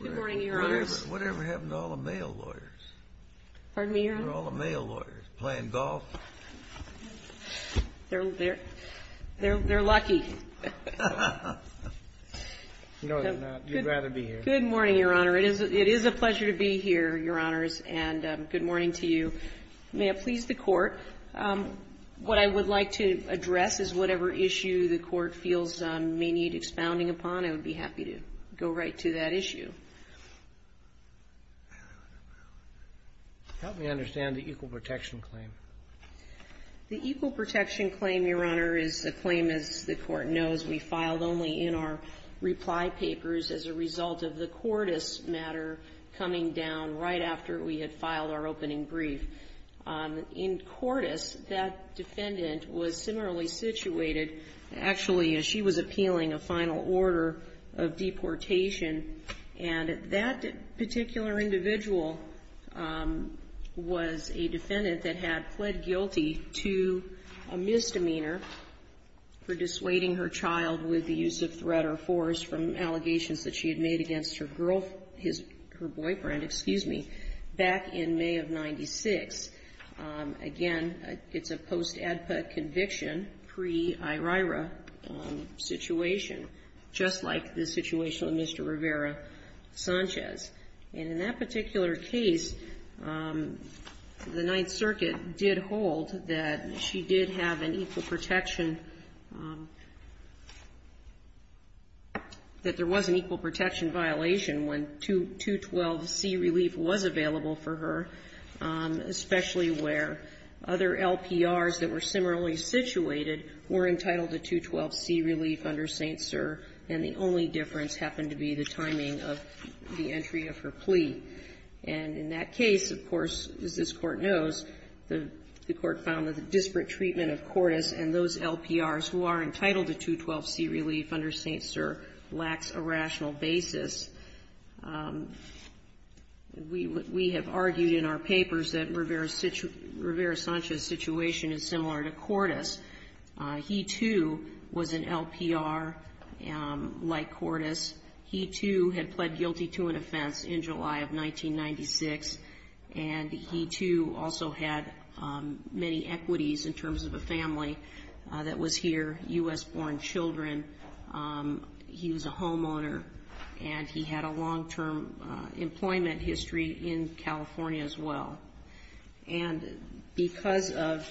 Good morning, Your Honors. Whatever happened to all the male lawyers? Pardon me, Your Honor? All the male lawyers playing golf? They're lucky. No, they're not. You'd rather be here. Good morning, Your Honor. It is a pleasure to be here, Your Honors, and good morning to you. May I please the Court? What I would like to address is whatever issue the Court feels may need expounding upon. I would be happy to go right to that issue. Help me understand the equal protection claim. The equal protection claim, Your Honor, is a claim, as the Court knows, we filed only in our reply papers as a result of the Cordes matter coming down right after we had filed our opening brief. In Cordes, that defendant was similarly situated. Actually, she was appealing a final order of deportation, and that particular individual was a defendant that had pled guilty to a misdemeanor for dissuading her child with the use of threat or force from allegations that she had made against her boyfriend back in May of 1996. Again, it's a post-ADPA conviction, pre-IRIRA situation, just like the situation with Mr. Rivera-Sanchez. And in that particular case, the Ninth Circuit did hold that she did have an equal protection, that there was an equal protection violation when 212C relief was available for her, especially where other LPRs that were similarly situated were entitled to 212C relief under St. Cyr, and the only difference happened to be the timing of the entry of her plea. And in that case, of course, as this Court knows, the Court found that the disparate treatment of Cordes and those LPRs who are entitled to 212C relief under St. Cyr lacks a rational basis. We have argued in our papers that Rivera-Sanchez's situation is similar to Cordes. He, too, was an LPR like Cordes. He, too, had pled guilty to an offense in July of 1996, and he, too, also had many equities in terms of a family that was here, U.S.-born children. He was a homeowner, and he had a long-term employment history in California as well. And because of,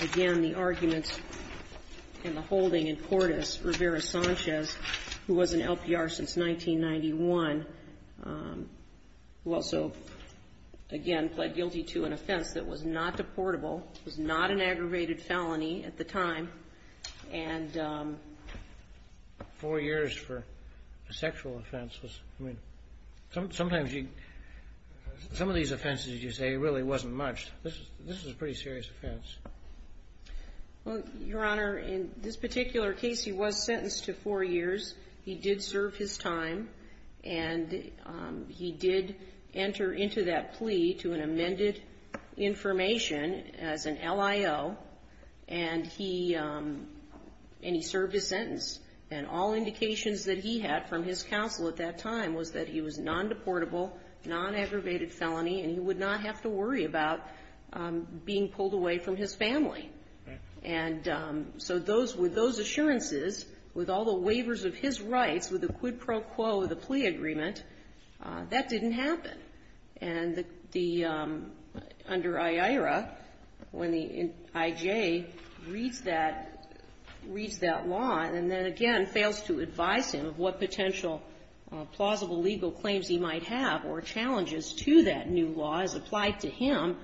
again, the arguments and the holding in Cordes, Rivera-Sanchez, who was an LPR since 1991, who also, again, pled guilty to an offense that was not deportable, was not an aggravated felony at the time, and four years for a sexual offense was, I mean, sometimes you, some of these offenses, as you say, really wasn't much. This was a pretty serious offense. Well, Your Honor, in this particular case, he was sentenced to four years. He did serve his time, and he did enter into that plea to an amended information as an LIO, and he served his sentence. And all indications that he had from his counsel at that time was that he was non-deportable, non-aggravated felony, and he would not have to worry about being pulled away from his family. And so with those assurances, with all the waivers of his rights, with the quid pro quo, the plea agreement, that didn't happen. And under IAERA, when the IJ reads that law and then, again, fails to advise him of what potential plausible legal claims he might have or challenges to that new law as applied to him,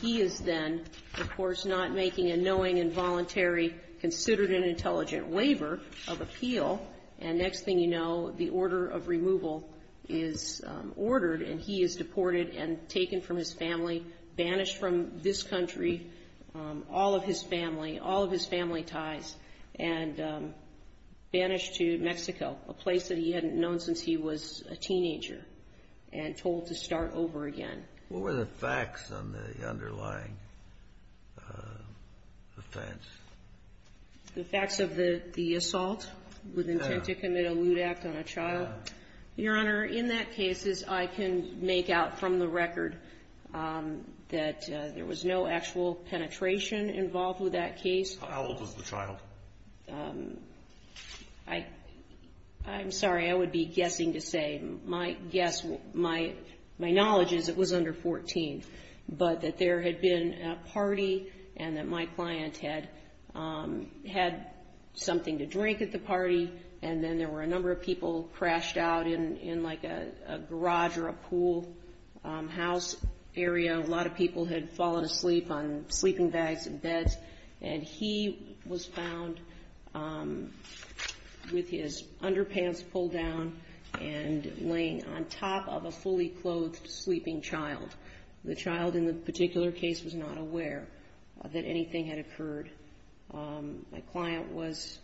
he is then, of course, not making a knowing and voluntary considered and intelligent waiver of appeal. And next thing you know, the order of removal is ordered, and he is deported and taken from his family, banished from this country, all of his family, all of his family ties, and banished to Mexico, a place that he hadn't known since he was a teenager, and told to start over again. What were the facts on the underlying offense? The facts of the assault with intent to commit a lewd act on a child? Your Honor, in that case, as I can make out from the record, that there was no actual penetration involved with that case. How old was the child? I'm sorry, I would be guessing to say, my guess, my knowledge is it was under 14, but that there had been a party and that my client had something to drink at the party, and then there were a number of people crashed out in, like, a garage or a pool house area. A lot of people had fallen asleep on sleeping bags and beds. And he was found with his underpants pulled down and laying on top of a fully clothed sleeping child. The child in the particular case was not aware that anything had occurred. My client was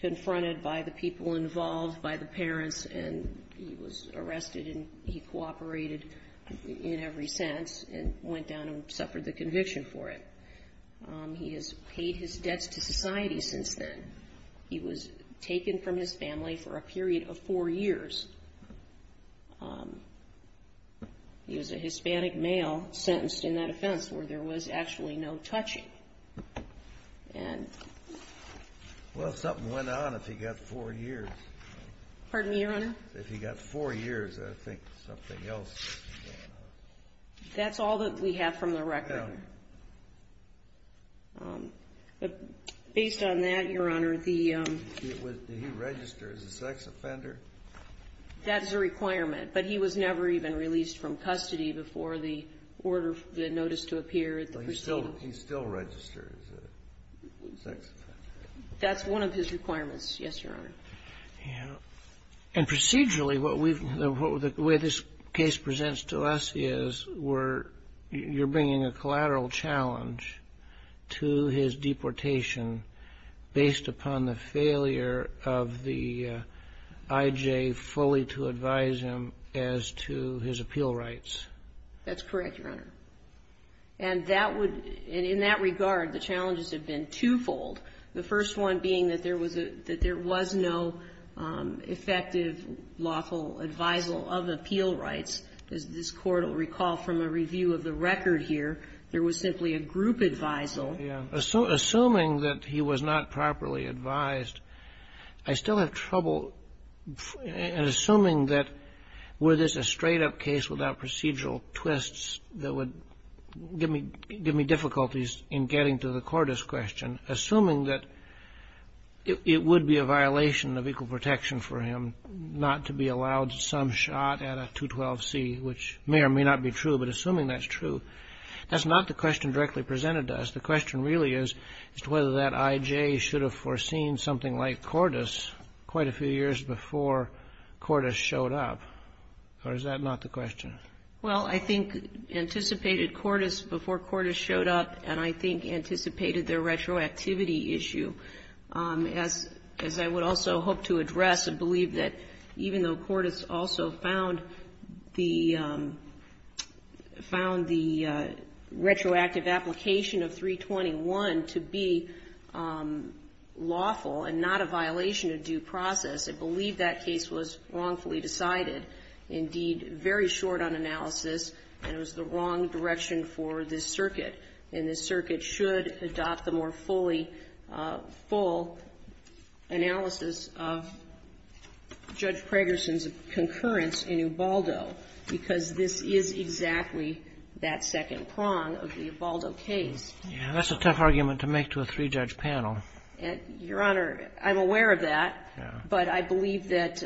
confronted by the people involved, by the parents, and he was arrested, and he cooperated in every sense and went down and suffered the conviction for it. He has paid his debts to society since then. He was taken from his family for a period of four years. He was a Hispanic male sentenced in that offense where there was actually no touching. Well, something went on if he got four years. Pardon me, Your Honor? If he got four years, I think something else went on. That's all that we have from the record. Based on that, Your Honor, the ---- Did he register as a sex offender? That is a requirement. But he was never even released from custody before the order, the notice to appear at the proceedings. He still registered as a sex offender. That's one of his requirements. Yes, Your Honor. And procedurally, what we've ---- the way this case presents to us is we're ---- you're bringing a collateral challenge to his deportation based upon the failure of the I.J. fully to advise him as to his appeal rights. That's correct, Your Honor. And that would ---- in that regard, the challenges have been twofold, the first one being that there was a ---- that there was no effective, lawful advisal of appeal rights. As this Court will recall from a review of the record here, there was simply a group advisal. Yeah. Assuming that he was not properly advised, I still have trouble ---- and assuming that were this a straight-up case without procedural twists that would give me ---- Assuming that it would be a violation of equal protection for him not to be allowed some shot at a 212C, which may or may not be true, but assuming that's true, that's not the question directly presented to us. The question really is as to whether that I.J. should have foreseen something like Cordis quite a few years before Cordis showed up, or is that not the question? Well, I think anticipated Cordis before Cordis showed up, and I think anticipated their retroactivity issue. As I would also hope to address, I believe that even though Cordis also found the ---- found the retroactive application of 321 to be lawful and not a violation of due process, I believe that case was wrongfully decided. Indeed, very short on analysis, and it was the wrong direction for this circuit, and this circuit should adopt the more fully full analysis of Judge Pragerson's concurrence in Ubaldo because this is exactly that second prong of the Ubaldo case. Yeah. That's a tough argument to make to a three-judge panel. Your Honor, I'm aware of that, but I believe that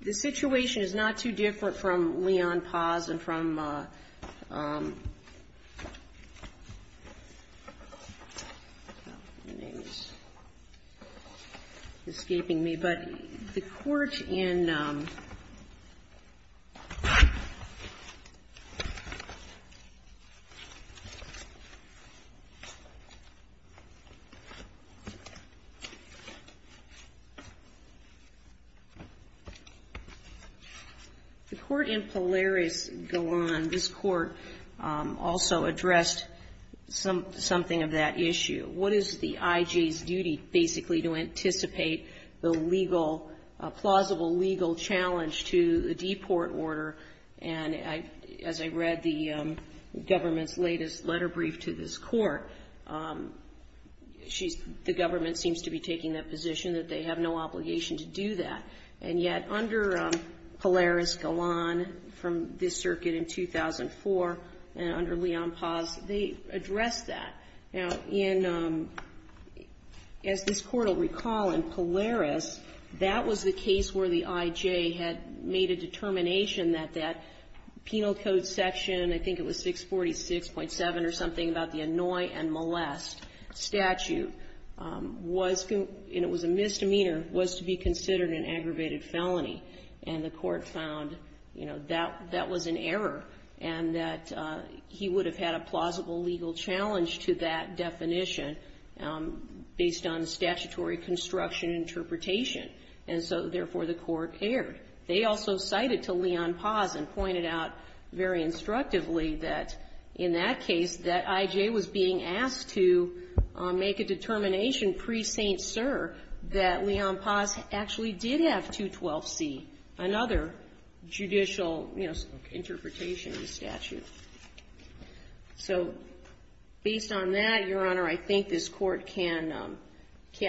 the situation is not too different from Leon Paz and from ---- my name is escaping me. But the Court in ---- The Court in Polaris, Golan, this Court also addressed something of that issue. What is the I.J.'s duty basically to anticipate the legal, plausible legal challenge to the deport order? And as I read the government's latest letter brief to this Court, she's ---- the government seems to be taking that position that they have no obligation to do that. And yet, under Polaris, Golan, from this circuit in 2004, and under Leon Paz, they addressed that. Now, in ---- as this Court will recall, in Polaris, that was the case where the I.J. had made a determination that that penal code section, I think it was 646.7 or something, about the annoy and molest statute was, and it was a misdemeanor, was to be considered an aggravated felony. And the Court found, you know, that that was an error and that he would have had a plausible legal challenge to that definition based on statutory construction interpretation. And so, therefore, the Court erred. They also cited to Leon Paz and pointed out very instructively that in that case that I.J. was being asked to make a determination pre-St. Cyr that Leon Paz actually did have 212C, another judicial, you know, interpretation of the statute. So based on that, Your Honor, I think this Court can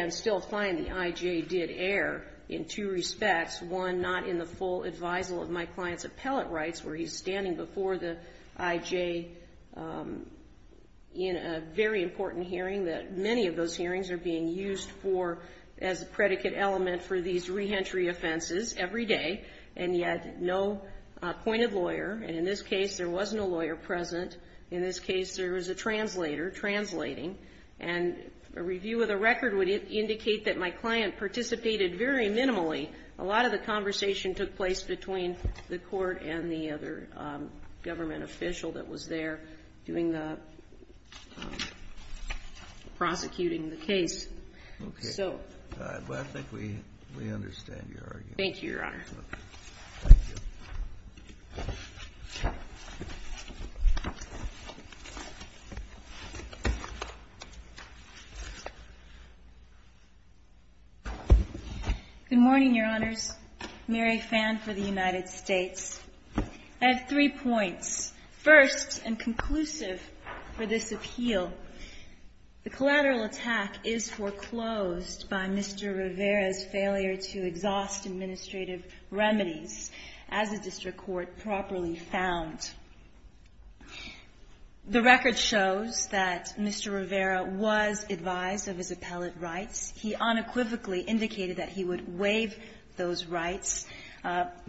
still find the I.J. did err in two respects. One, not in the full advisal of my client's appellate rights, where he's standing before the I.J. in a very important hearing that many of those hearings are being used for as a predicate element for these re-entry offenses every day, and yet no appointed lawyer. And in this case, there was no lawyer present. In this case, there was a translator translating. And a review of the record would indicate that my client participated very minimally. A lot of the conversation took place between the Court and the other government official that was there doing the prosecuting the case. So. Kennedy. Well, I think we understand your argument. Thank you, Your Honor. Thank you. Good morning, Your Honors. Mary Phan for the United States. I have three points. First, and conclusive for this appeal, the collateral attack is foreclosed by Mr. Rivera. It's a case that, as a district court, properly found. The record shows that Mr. Rivera was advised of his appellate rights. He unequivocally indicated that he would waive those rights.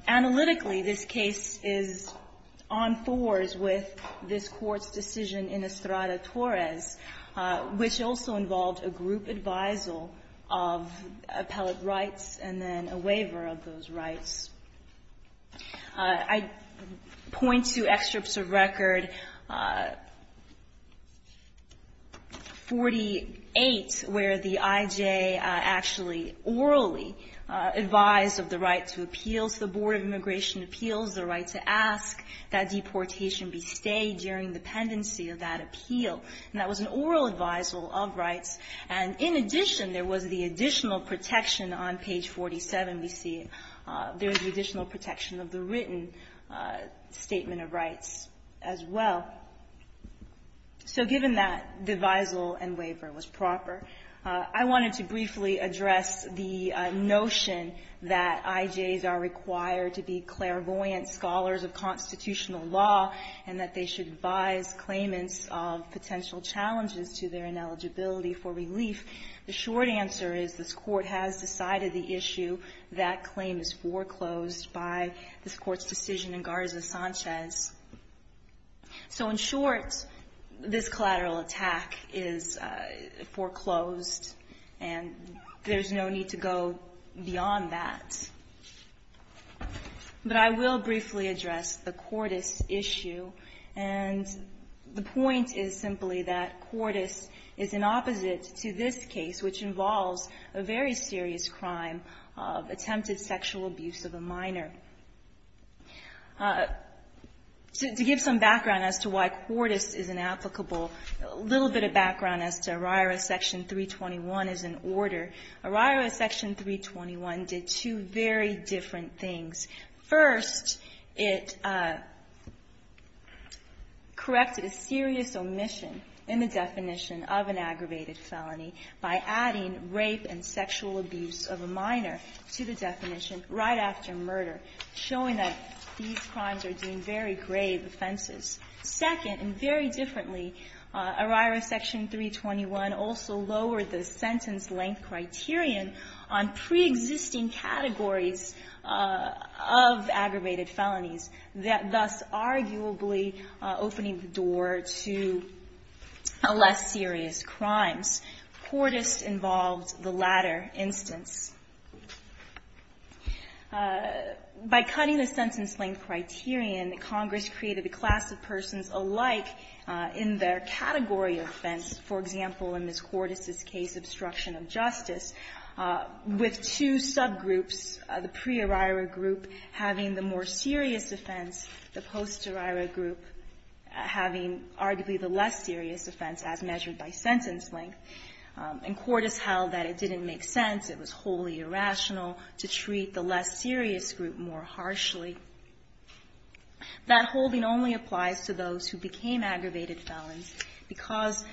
Analytically, this case is on thaws with this Court's decision in Estrada-Torres, which also involved a group advisal of appellate rights and then a waiver of those rights. I point to excerpts of record 48 where the I.J. actually orally advised of the right to appeal to the Board of Immigration Appeals, the right to ask that deportation be stayed during the pendency of that appeal. And that was an oral advisal of rights. And in addition, there was the additional protection on page 47, we see, there's the additional protection of the written statement of rights as well. So given that the advisal and waiver was proper, I wanted to briefly address the notion that I.J.s are required to be clairvoyant scholars of constitutional law and that they should advise claimants of potential challenges to their rights and eligibility for relief. The short answer is this Court has decided the issue. That claim is foreclosed by this Court's decision in Garza-Sanchez. So in short, this collateral attack is foreclosed, and there's no need to go beyond that. But I will briefly address the Cordes issue. And the point is simply that Cordes is an opposite to this case, which involves a very serious crime of attempted sexual abuse of a minor. To give some background as to why Cordes is inapplicable, a little bit of background as to ORIRA Section 321 as an order. ORIRA Section 321 did two very different things. First, it corrected a serious omission in the definition of an aggravated felony by adding rape and sexual abuse of a minor to the definition right after murder, showing that these crimes are deemed very grave offenses. Second, and very differently, ORIRA Section 321 also lowered the sentence length criterion on preexisting categories of aggravated felonies, thus arguably opening the door to less serious crimes. Cordes involved the latter instance. By cutting the sentence length criterion, Congress created a class of persons in their category of offense. For example, in Ms. Cordes' case, obstruction of justice, with two subgroups, the pre-ORIRA group having the more serious offense, the post-ORIRA group having arguably the less serious offense as measured by sentence length. And Cordes held that it didn't make sense, it was wholly irrational to treat the less serious group more harshly. That holding only applies to those who became aggravated felons because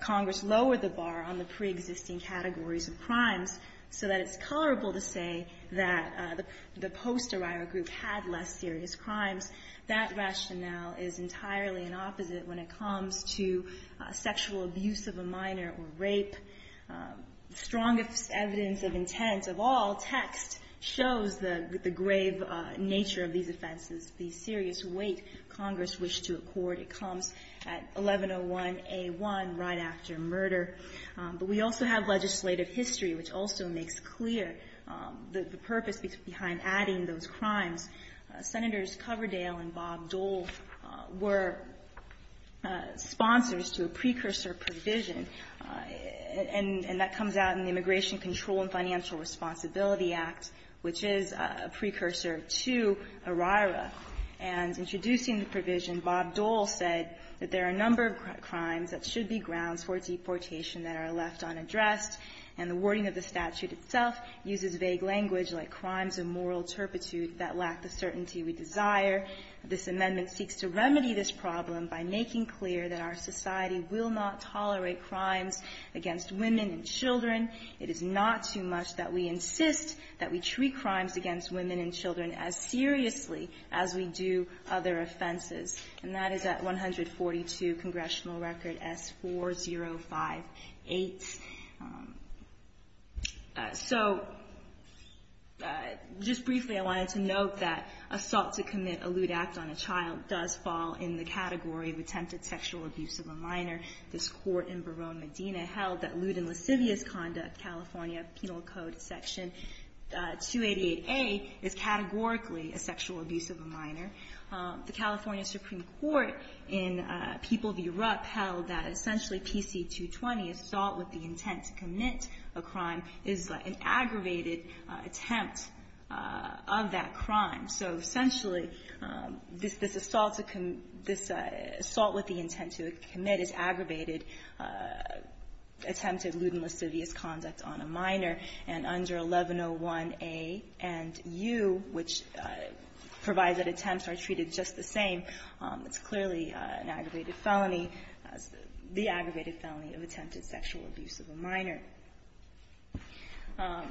Congress lowered the bar on the preexisting categories of crimes so that it's colorable to say that the post-ORIRA group had less serious crimes. That rationale is entirely the opposite when it comes to sexual abuse of a minor or rape. Strongest evidence of intent of all text shows the grave nature of these offenses, the serious weight Congress wished to accord. It comes at 1101A1, right after murder. But we also have legislative history, which also makes clear the purpose behind adding those crimes. Senators Coverdale and Bob Dole were sponsors to a precursor provision. And that comes out in the Immigration Control and Financial Responsibility Act, which is a precursor to ORIRA. And introducing the provision, Bob Dole said that there are a number of crimes that should be grounds for deportation that are left unaddressed, and the wording of the statute itself uses vague language like crimes of moral turpitude that lack the certainty we desire. This amendment seeks to remedy this problem by making clear that our society will not tolerate crimes against women and children. It is not too much that we insist that we treat crimes against women and children as seriously as we do other offenses. And that is at 142 Congressional Record S4058. So just briefly, I wanted to note that assault to commit a lewd act on a child does fall in the category of attempted sexual abuse of a minor. This Court in Verona, Medina held that lewd and lascivious conduct, California Penal Code Section 288A, is categorically a sexual abuse of a minor. The California Supreme Court in People v. Rupp held that essentially PC220, assault with the intent to commit a crime, is an aggravated attempt of that crime. So essentially, this assault to commit, this assault with the intent to commit is aggravated attempted lewd and lascivious conduct on a minor. And under 1101A and U, which provide that attempts are treated just the same, it's clearly an aggravated felony, the aggravated felony of attempted sexual abuse. of a minor. The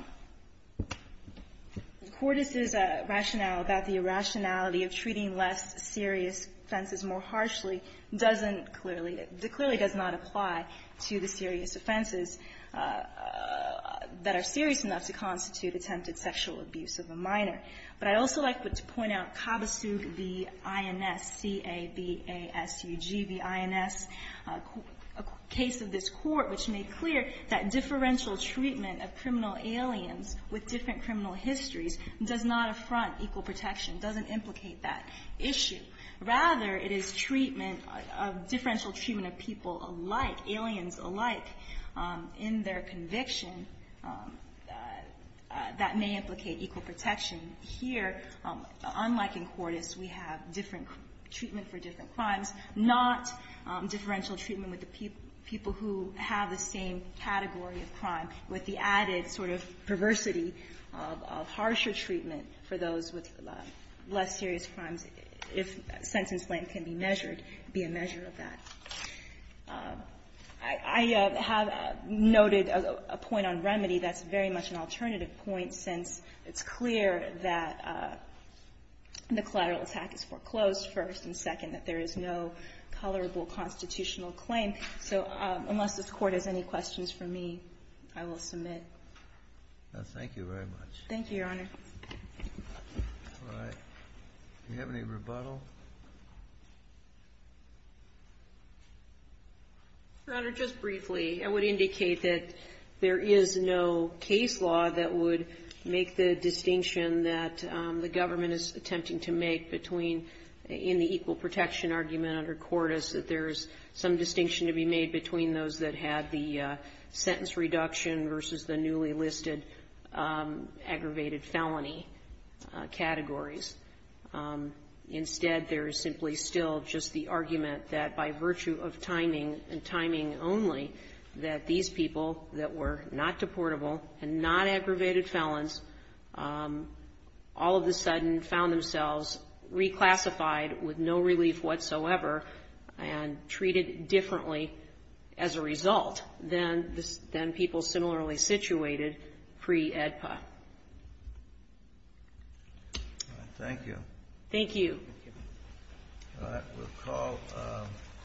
Court's rationale about the irrationality of treating less serious offenses more harshly doesn't clearly, clearly does not apply to the serious offenses that are serious enough to constitute attempted sexual abuse of a minor. But I'd also like to point out Kabasug v. INS, C-A-B-A-S-U-G v. INS, a case of this nature, it's clear that differential treatment of criminal aliens with different criminal histories does not affront equal protection, doesn't implicate that issue. Rather, it is treatment, differential treatment of people alike, aliens alike, in their conviction that may implicate equal protection. Here, unlike in Cordis, we have different treatment for different crimes, not differential treatment with the people who have the same category of crime, with the added sort of perversity of harsher treatment for those with less serious crimes, if sentence length can be measured, be a measure of that. I have noted a point on remedy that's very much an alternative point, since it's clear that the collateral attack is foreclosed first and second, that there is no colorable constitutional claim. So unless this Court has any questions for me, I will submit. Thank you very much. Thank you, Your Honor. All right. Do we have any rebuttal? Your Honor, just briefly, I would indicate that there is no case law that would make the distinction that the government is attempting to make between, in the equal protection argument under Cordis, that there is some distinction to be made between those that had the sentence reduction versus the newly listed aggravated felony categories. Instead, there is simply still just the argument that by virtue of timing, and timing only, that these people that were not deportable and not aggravated felons all of a sudden found themselves reclassified with no relief whatsoever and treated differently as a result than people similarly situated pre-AEDPA. Thank you. Thank you.